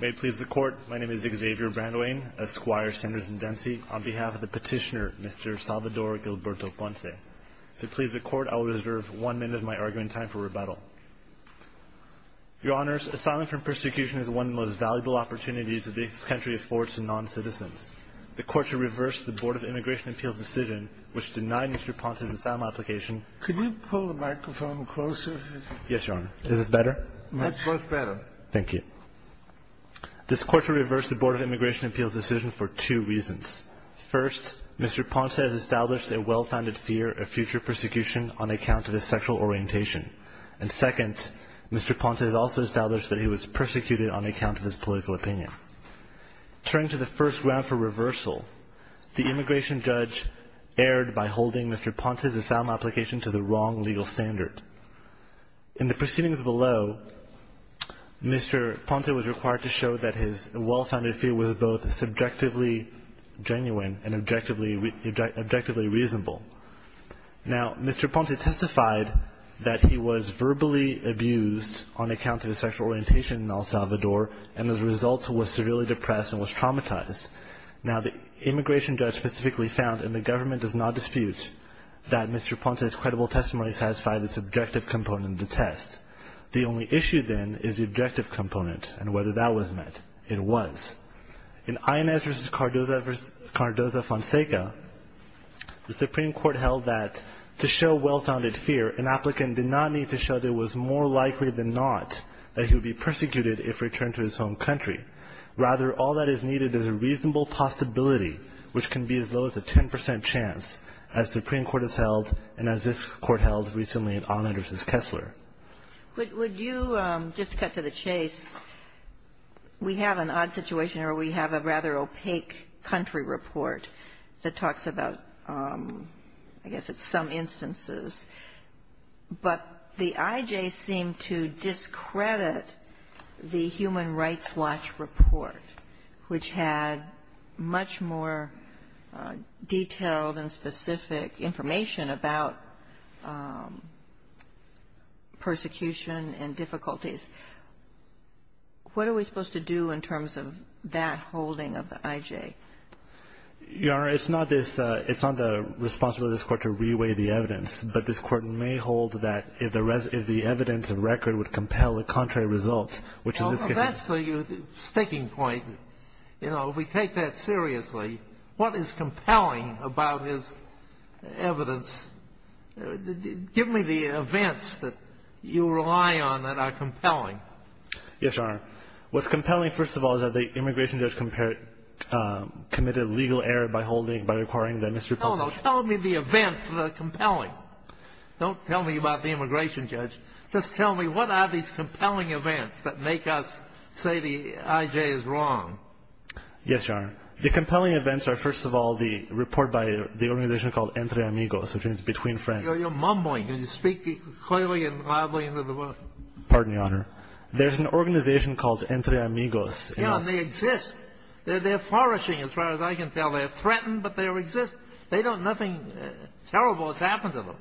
May it please the Court, my name is Xavier Brandowain, Esquire, Sanders & Dempsey, on behalf of the petitioner, Mr. Salvador Gilberto Ponce. If it pleases the Court, I will reserve one minute of my argument time for rebuttal. Your Honors, asylum from persecution is one of the most valuable opportunities that this country affords to non-citizens. The Court should reverse the Board of Immigration Appeals' decision, which denied Mr. Ponce's asylum application. Could you pull the microphone closer? Yes, Your Honor. Is this better? Much better. Thank you. This Court should reverse the Board of Immigration Appeals' decision for two reasons. First, Mr. Ponce has established a well-founded fear of future persecution on account of his sexual orientation. And second, Mr. Ponce has also established that he was persecuted on account of his political opinion. Turning to the first round for reversal, the immigration judge erred by holding Mr. Ponce's asylum application to the wrong legal standard. In the proceedings below, Mr. Ponce was required to show that his well-founded fear was both subjectively genuine and objectively reasonable. Now, Mr. Ponce testified that he was verbally abused on account of his sexual orientation in El Salvador, and as a result was severely depressed and was traumatized. Now, the immigration judge specifically found, and the government does not dispute, that Mr. Ponce's credible testimony satisfied the subjective component of the test. The only issue, then, is the objective component and whether that was met. It was. In Inez v. Cardoza-Fonseca, the Supreme Court held that to show well-founded fear, an applicant did not need to show that it was more likely than not that he would be persecuted if returned to his home country. Rather, all that is needed is a reasonable possibility, which can be as low as a 10 percent chance, as the Supreme Court has held and as this Court held recently in Ahmed v. Kessler. Would you just cut to the chase? We have an odd situation where we have a rather opaque country report that talks about, I guess it's some instances, but the I.J. seemed to discredit the Human Rights Watch report, which had much more detailed and specific information about persecution and difficulties. What are we supposed to do in terms of that holding of the I.J.? Your Honor, it's not this — it's not the responsibility of this Court to reweigh the evidence, but this Court may hold that if the evidence and record would compel the contrary results, which in this case — Well, that's the sticking point. You know, if we take that seriously, what is compelling about his evidence? Give me the events that you rely on that are compelling. Yes, Your Honor. What's compelling, first of all, is that the immigration judge committed a legal error by holding — by requiring that Mr. — No, no. Tell me the events that are compelling. Don't tell me about the immigration judge. Just tell me what are these compelling events that make us say the I.J. is wrong? Yes, Your Honor. The compelling events are, first of all, the report by the organization called Entre Amigos, which means Between Friends. You're mumbling. Can you speak clearly and loudly into the mic? Pardon, Your Honor. There's an organization called Entre Amigos. Yes, and they exist. They're flourishing, as far as I can tell. They're threatened, but they exist. They don't — nothing terrible has happened to them.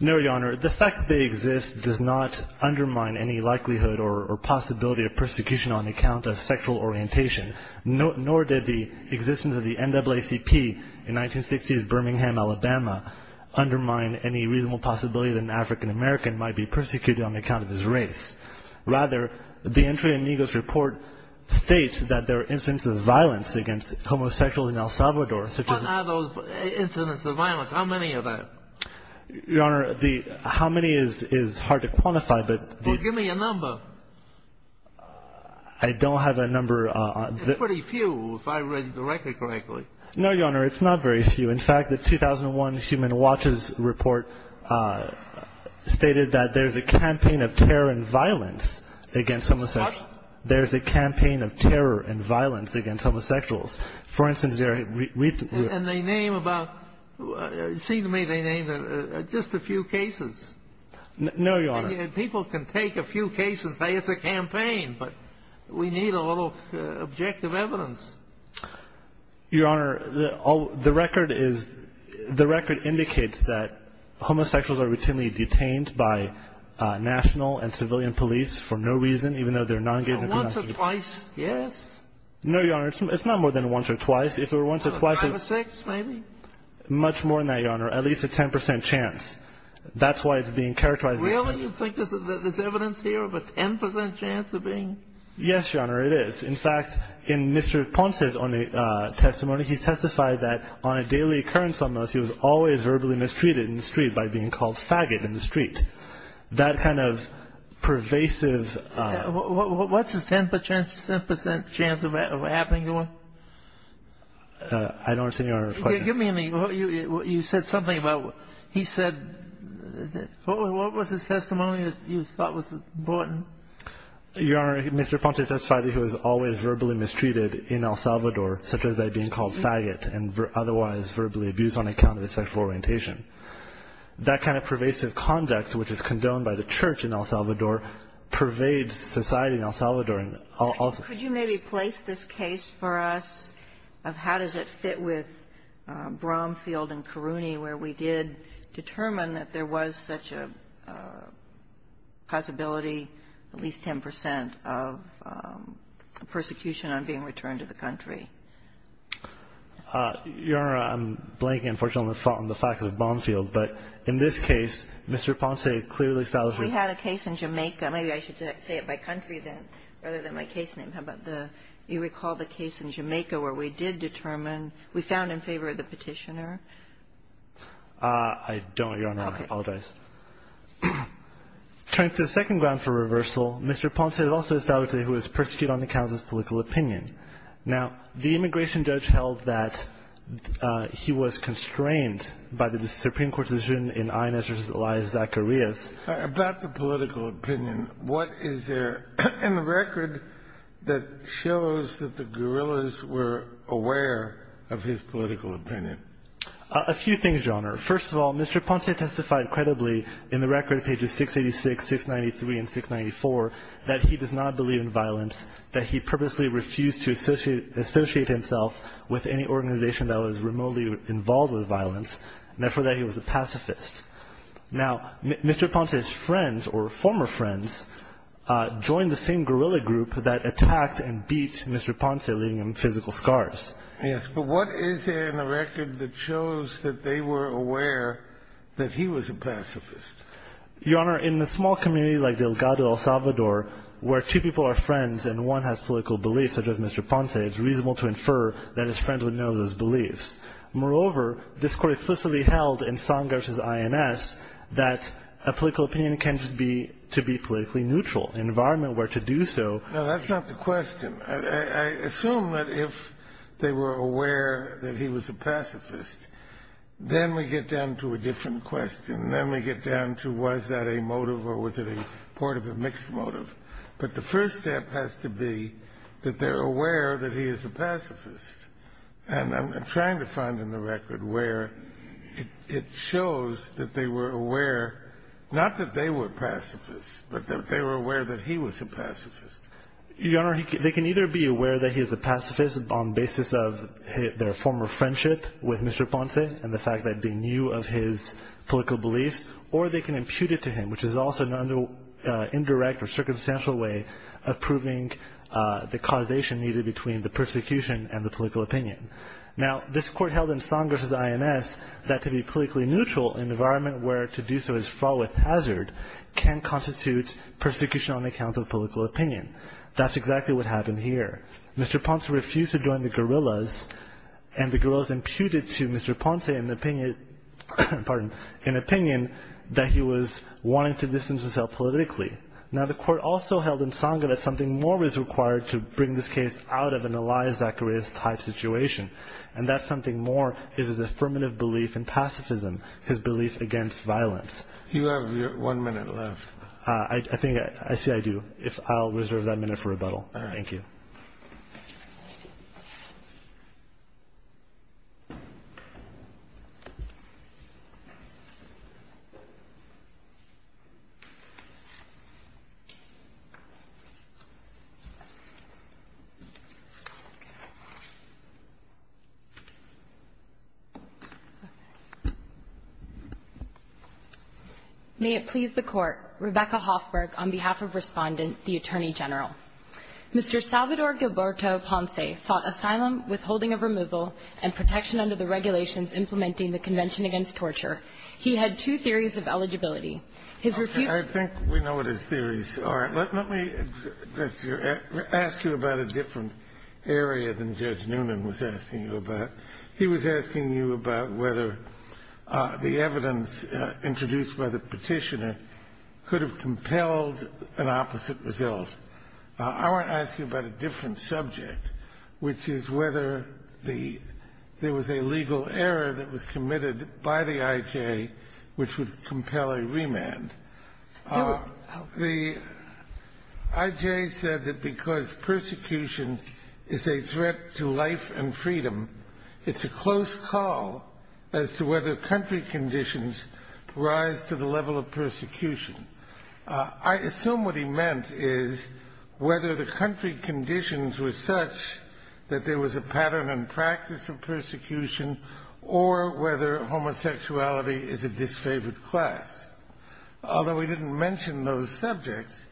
No, Your Honor. The fact that they exist does not undermine any likelihood or possibility of persecution on account of sexual orientation, nor did the existence of the NAACP in 1960s Birmingham, Alabama undermine any reasonable possibility that an African American might be persecuted on account of his race. Rather, the Entre Amigos report states that there are incidents of violence against homosexuals in El Salvador, such as — What are those incidents of violence? How many are there? Your Honor, the — how many is hard to quantify, but — Well, give me a number. I don't have a number. It's pretty few, if I read the record correctly. No, Your Honor, it's not very few. In fact, the 2001 Human Watches report stated that there's a campaign of terror and violence against homosexuals. What? There's a campaign of terror and violence against homosexuals. For instance, there are — And they name about — it seemed to me they named just a few cases. No, Your Honor. People can take a few cases and say it's a campaign, but we need a little objective evidence. Your Honor, the record is — the record indicates that homosexuals are routinely detained by national and civilian police for no reason, even though they're non-engaged in domestic violence. Once or twice, yes? No, Your Honor, it's not more than once or twice. If it were once or twice — Five or six, maybe? Much more than that, Your Honor. At least a 10 percent chance. That's why it's being characterized as — Really? You think there's evidence here of a 10 percent chance of being — Yes, Your Honor, it is. In fact, in Mr. Ponce's testimony, he testified that on a daily occurrence almost, he was always verbally mistreated in the street by being called faggot in the street. That kind of pervasive — What's his 10 percent chance of happening, Your Honor? I don't understand, Your Honor. Give me — you said something about — he said — what was his testimony that you thought was important? Your Honor, Mr. Ponce testified that he was always verbally mistreated in El Salvador, such as by being called faggot and otherwise verbally abused on account of his sexual orientation. That kind of pervasive conduct, which is condoned by the Church in El Salvador, pervades society in El Salvador and also — Could you maybe place this case for us of how does it fit with Bromfield and Caruni, where we did determine that there was such a possibility, at least 10 percent, of persecution on being returned to the country? Your Honor, I'm blanking, unfortunately, on the fact of Bromfield. But in this case, Mr. Ponce clearly established — We had a case in Jamaica. Maybe I should say it by country rather than my case name. How about the — you recall the case in Jamaica where we did determine — we found in favor of the petitioner? I don't, Your Honor. Okay. I apologize. Turning to the second ground for reversal, Mr. Ponce also established that he was persecuted on account of his political opinion. Now, the immigration judge held that he was constrained by the Supreme Court decision in Inez v. Elias Zacarias. About the political opinion, what is there in the record that shows that the guerrillas were aware of his political opinion? A few things, Your Honor. First of all, Mr. Ponce testified credibly in the record, pages 686, 693, and 694, that he does not believe in violence, that he purposely refused to associate himself with any organization that was remotely involved with violence, and therefore that he was a pacifist. Now, Mr. Ponce's friends, or former friends, joined the same guerrilla group that attacked and beat Mr. Ponce, leaving him physical scars. Yes. But what is there in the record that shows that they were aware that he was a pacifist? Your Honor, in a small community like Delgado, El Salvador, where two people are friends and one has political beliefs, such as Mr. Ponce, it's reasonable to infer that his friend would know those beliefs. Moreover, this court explicitly held in Songers' INS that a political opinion can't just be to be politically neutral. An environment where to do so — No, that's not the question. I assume that if they were aware that he was a pacifist, then we get down to a different question. Then we get down to was that a motive or was it a part of a mixed motive. But the first step has to be that they're aware that he is a pacifist. And I'm trying to find in the record where it shows that they were aware, not that they were pacifists, but that they were aware that he was a pacifist. Your Honor, they can either be aware that he is a pacifist on the basis of their former friendship with Mr. Ponce and the fact that they knew of his political beliefs, or they can impute it to him, which is also an indirect or circumstantial way of proving the causation needed between the persecution and the political opinion. Now, this court held in Songers' INS that to be politically neutral, an environment where to do so is fraught with hazard, can constitute persecution on account of political opinion. That's exactly what happened here. Mr. Ponce refused to join the guerrillas, and the guerrillas imputed to Mr. Ponce an opinion that he was wanting to distance himself politically. Now, the court also held in Songers' that something more is required to bring this case out of an Elias Zacharias type situation, and that something more is his affirmative belief in pacifism, his belief against violence. You have one minute left. I see I do. I'll reserve that minute for rebuttal. Thank you. May it please the Court. Rebecca Hoffberg, on behalf of Respondent, the Attorney General. Mr. Salvador Gilberto Ponce sought asylum, withholding of removal, and protection under the regulations implementing the Convention Against Torture. He had two theories of eligibility. His refusal to join the guerrillas and his belief in pacifism. I think we know what his theories are. Let me ask you about a different area than Judge Noonan was asking you about. He was asking you about whether the evidence introduced by the Petitioner could have compelled an opposite result. I want to ask you about a different subject, which is whether there was a legal error that was committed by the IJ which would compel a remand. The IJ said that because persecution is a threat to life and freedom, it's a close call as to whether country conditions rise to the level of persecution. I assume what he meant is whether the country conditions were such that there was a pattern and practice of persecution or whether homosexuality is a disfavored class. Although he didn't mention those subjects,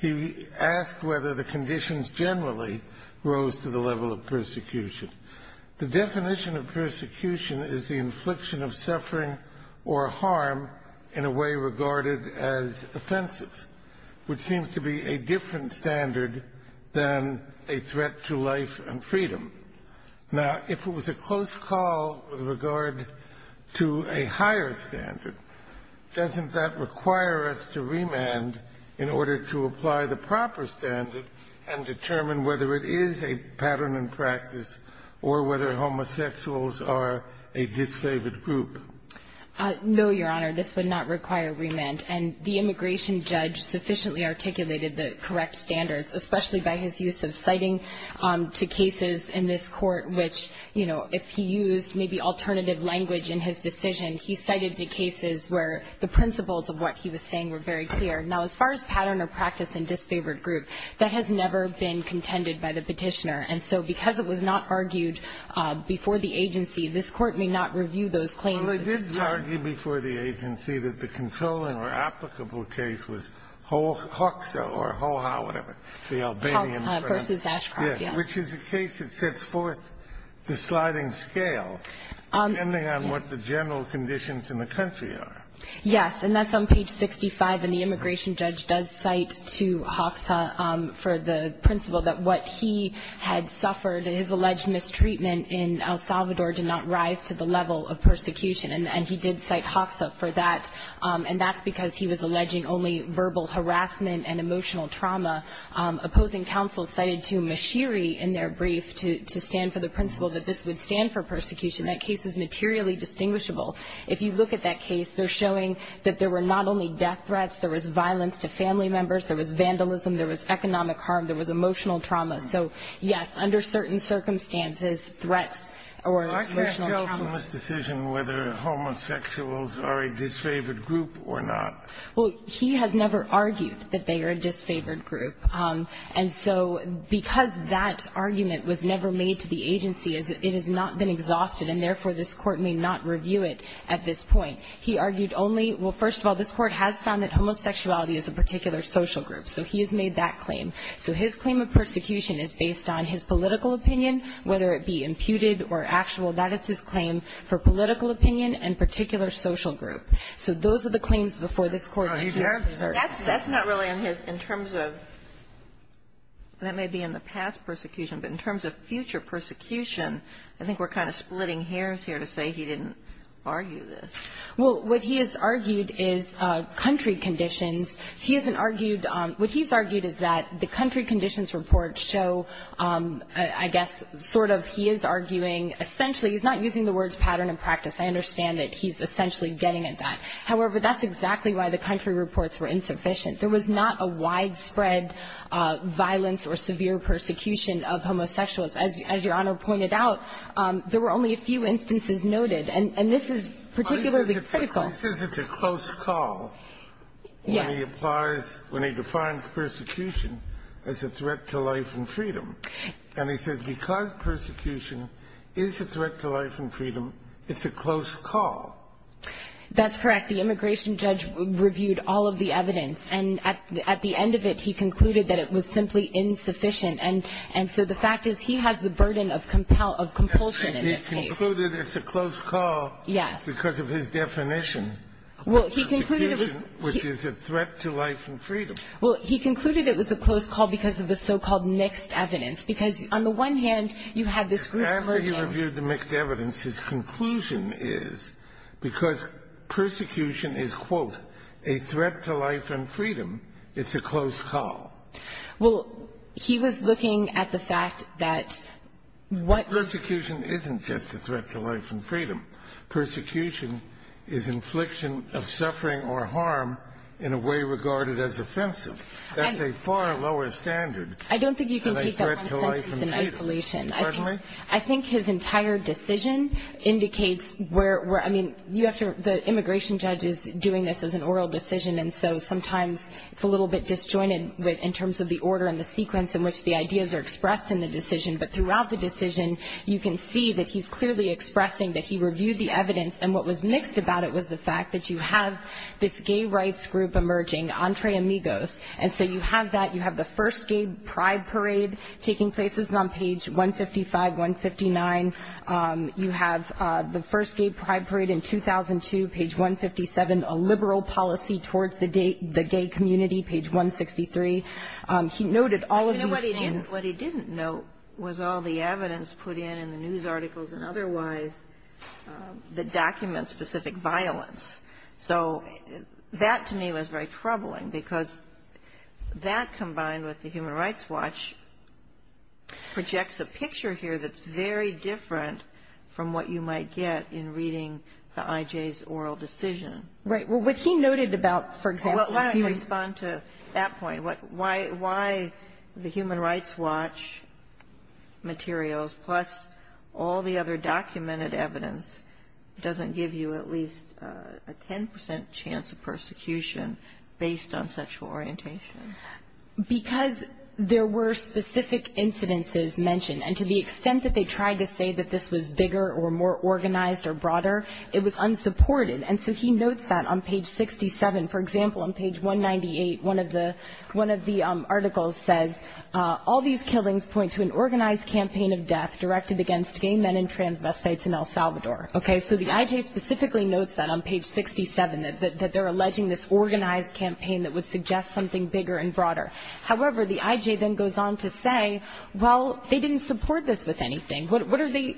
he asked whether the conditions generally rose to the level of persecution. The definition of persecution is the infliction of suffering or harm in a way regarded as offensive, which seems to be a different standard than a threat to life and freedom. Now, if it was a close call with regard to a higher standard, doesn't that require us to remand in order to apply the proper standard and determine whether it is a pattern and practice or whether homosexuals are a disfavored group? No, Your Honor. This would not require remand. And the immigration judge sufficiently articulated the correct standards, especially by his use of citing to cases in this Court which, you know, if he used maybe alternative language in his decision, he cited the cases where the principles of what he was saying were very clear. Now, as far as pattern or practice in disfavored group, that has never been contended by the Petitioner. And so because it was not argued before the agency, this Court may not review those claims at this time. Well, it did argue before the agency that the controlling or applicable case was HOAXO or HOA, whatever, the Albanian. HOAX versus Ashcroft, yes. Which is a case that sets forth the sliding scale, depending on what the general conditions in the country are. Yes. And that's on page 65. And the immigration judge does cite to HOAXO for the principle that what he had suffered, his alleged mistreatment in El Salvador, did not rise to the level of persecution. And he did cite HOAXO for that. And that's because he was alleging only verbal harassment and emotional trauma. Opposing counsel cited to Mashiri in their brief to stand for the principle that this would stand for persecution. That case is materially distinguishable. If you look at that case, they're showing that there were not only death threats. There was violence to family members. There was vandalism. There was economic harm. There was emotional trauma. So, yes, under certain circumstances, threats or emotional trauma. I can't go from this decision whether homosexuals are a disfavored group or not. Well, he has never argued that they are a disfavored group. And so because that argument was never made to the agency, it has not been exhausted, and therefore this Court may not review it at this point. He argued only, well, first of all, this Court has found that homosexuality is a particular social group. So he has made that claim. So his claim of persecution is based on his political opinion, whether it be imputed or actual. That is his claim for political opinion and particular social group. So those are the claims before this Court. That's not really in his – in terms of – that may be in the past persecution. But in terms of future persecution, I think we're kind of splitting hairs here to say he didn't argue this. Well, what he has argued is country conditions. He hasn't argued – what he's argued is that the country conditions report show, I guess, sort of he is arguing essentially – he's not using the words pattern and practice. I understand that he's essentially getting at that. However, that's exactly why the country reports were insufficient. There was not a widespread violence or severe persecution of homosexuals. As Your Honor pointed out, there were only a few instances noted. And this is particularly critical. He says it's a close call when he applies – when he defines persecution as a threat to life and freedom. And he says because persecution is a threat to life and freedom, it's a close call. That's correct. The immigration judge reviewed all of the evidence. And at the end of it, he concluded that it was simply insufficient. And so the fact is he has the burden of compulsion in this case. He concluded it's a close call because of his definition. Well, he concluded it was – Persecution, which is a threat to life and freedom. Well, he concluded it was a close call because of the so-called mixed evidence, because on the one hand, you have this group of – And after he reviewed the mixed evidence, his conclusion is because persecution is, quote, a threat to life and freedom, it's a close call. Well, he was looking at the fact that what – Persecution isn't just a threat to life and freedom. Persecution is infliction of suffering or harm in a way regarded as offensive. That's a far lower standard than a threat to life and freedom. I don't think you can take that one sentence in isolation. Pardon me? I think his entire decision indicates where – I mean, you have to – the immigration judge is doing this as an oral decision, and so sometimes it's a little bit disjointed in terms of the order and the sequence in which the ideas are expressed in the decision. But throughout the decision, you can see that he's clearly expressing that he reviewed the evidence, and what was mixed about it was the fact that you have this gay rights group emerging, Entre Amigos, and so you have that. Pride parade taking place is on page 155, 159. You have the first gay pride parade in 2002, page 157, a liberal policy towards the gay community, page 163. He noted all of these things. You know what he didn't note was all the evidence put in in the news articles and otherwise that documents specific violence. So that to me was very troubling because that combined with the Human Rights Watch projects a picture here that's very different from what you might get in reading the I.J.'s oral decision. Right. Well, what he noted about, for example – Well, let me respond to that point. Why the Human Rights Watch materials plus all the other documented evidence doesn't give you at least a 10% chance of persecution based on sexual orientation? Because there were specific incidences mentioned, and to the extent that they tried to say that this was bigger or more organized or broader, it was unsupported. And so he notes that on page 67. For example, on page 198, one of the articles says, all these killings point to an organized campaign of death directed against gay men and transvestites in El Salvador. So the I.J. specifically notes that on page 67, that they're alleging this organized campaign that would suggest something bigger and broader. However, the I.J. then goes on to say, well, they didn't support this with anything. What are they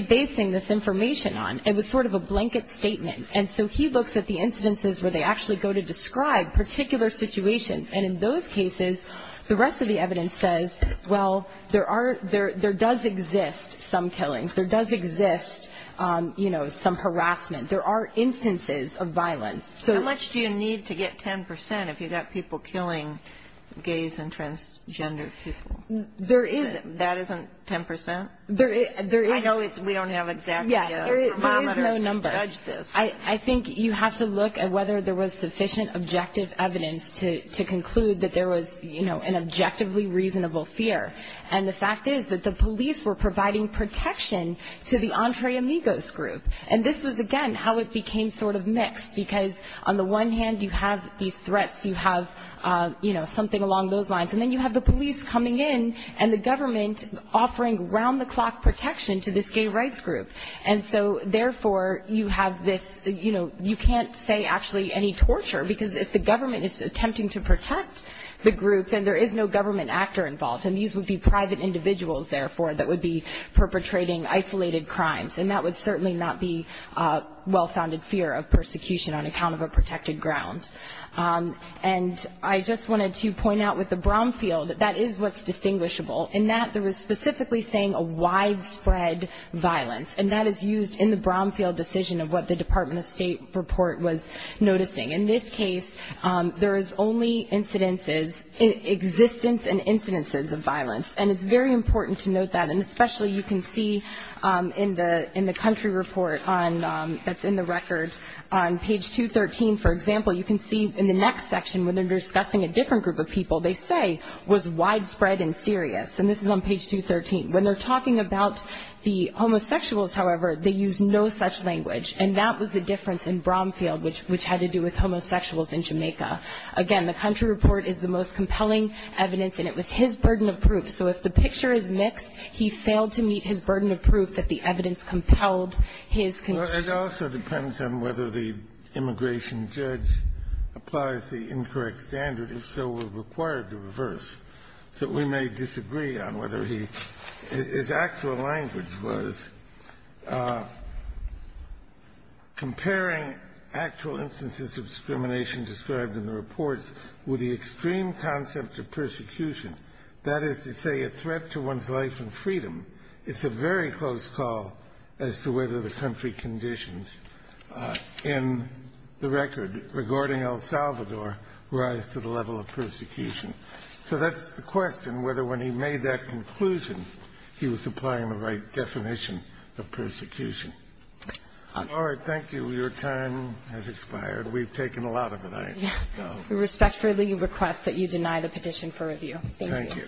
basing this information on? It was sort of a blanket statement. And so he looks at the incidences where they actually go to describe particular situations. And in those cases, the rest of the evidence says, well, there does exist some killings. There does exist, you know, some harassment. There are instances of violence. How much do you need to get 10% if you've got people killing gays and transgender people? There is. That isn't 10%? I know we don't have exactly a parameter to judge this. Yes, there is no number. I think you have to look at whether there was sufficient objective evidence to conclude that there was, you know, an objectively reasonable fear. And the fact is that the police were providing protection to the Entre Amigos group. And this was, again, how it became sort of mixed, because on the one hand you have these threats, you have, you know, something along those lines. And then you have the police coming in and the government offering round-the-clock protection to this gay rights group. And so, therefore, you have this, you know, you can't say actually any torture, because if the government is attempting to protect the group, then there is no government actor involved. And these would be private individuals, therefore, that would be perpetrating isolated crimes. And that would certainly not be well-founded fear of persecution on account of a protected ground. And I just wanted to point out with the Bromfield that that is what's distinguishable, in that there was specifically saying a widespread violence. And that is used in the Bromfield decision of what the Department of State report was noticing. In this case, there is only incidences, existence and incidences of violence. And it's very important to note that. And especially you can see in the country report that's in the record, on page 213, for example, you can see in the next section when they're discussing a different group of people, they say was widespread and serious. And this is on page 213. When they're talking about the homosexuals, however, they use no such language. And that was the difference in Bromfield, which had to do with homosexuals in Jamaica. Again, the country report is the most compelling evidence, and it was his burden of proof. So if the picture is mixed, he failed to meet his burden of proof that the evidence compelled his conviction. It also depends on whether the immigration judge applies the incorrect standard. If so, we're required to reverse. So we may disagree on whether he his actual language was comparing actual instances of discrimination described in the reports with the extreme concept of persecution, that is to say a threat to one's life and freedom. It's a very close call as to whether the country conditions in the record regarding El Salvador rise to the level of persecution. So that's the question, whether when he made that conclusion, he was applying the right definition of persecution. All right. Thank you. Your time has expired. We've taken a lot of it. We respectfully request that you deny the petition for review. Thank you. Thank you.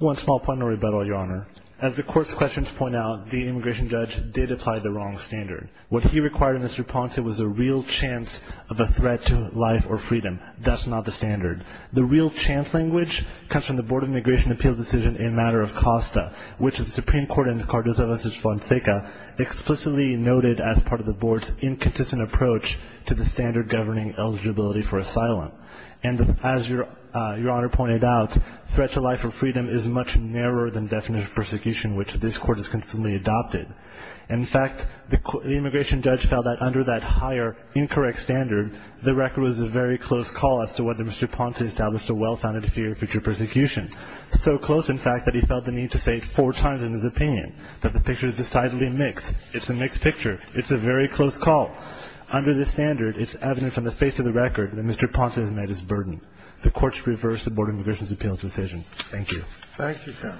One small point in rebuttal, Your Honor. As the court's questions point out, the immigration judge did apply the wrong standard. What he required of Mr. Ponce was a real chance of a threat to life or freedom. That's not the standard. The real chance language comes from the Board of Immigration Appeals decision in matter of Costa, which the Supreme Court in Cardozo versus Fonseca explicitly noted as part of the board's inconsistent approach to the standard governing eligibility for asylum. And as Your Honor pointed out, threat to life or freedom is much narrower than definition of persecution, which this court has consistently adopted. In fact, the immigration judge felt that under that higher incorrect standard, the record was a very close call as to whether Mr. Ponce established a well-founded fear of future persecution. So close, in fact, that he felt the need to say it four times in his opinion, that the picture is decidedly mixed. It's a mixed picture. It's a very close call. Under this standard, it's evident from the face of the record that Mr. Ponce has met his burden. The court should reverse the Board of Immigration Appeals decision. Thank you. Thank you, Your Honor.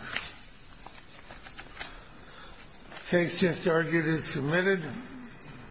The case just argued is submitted.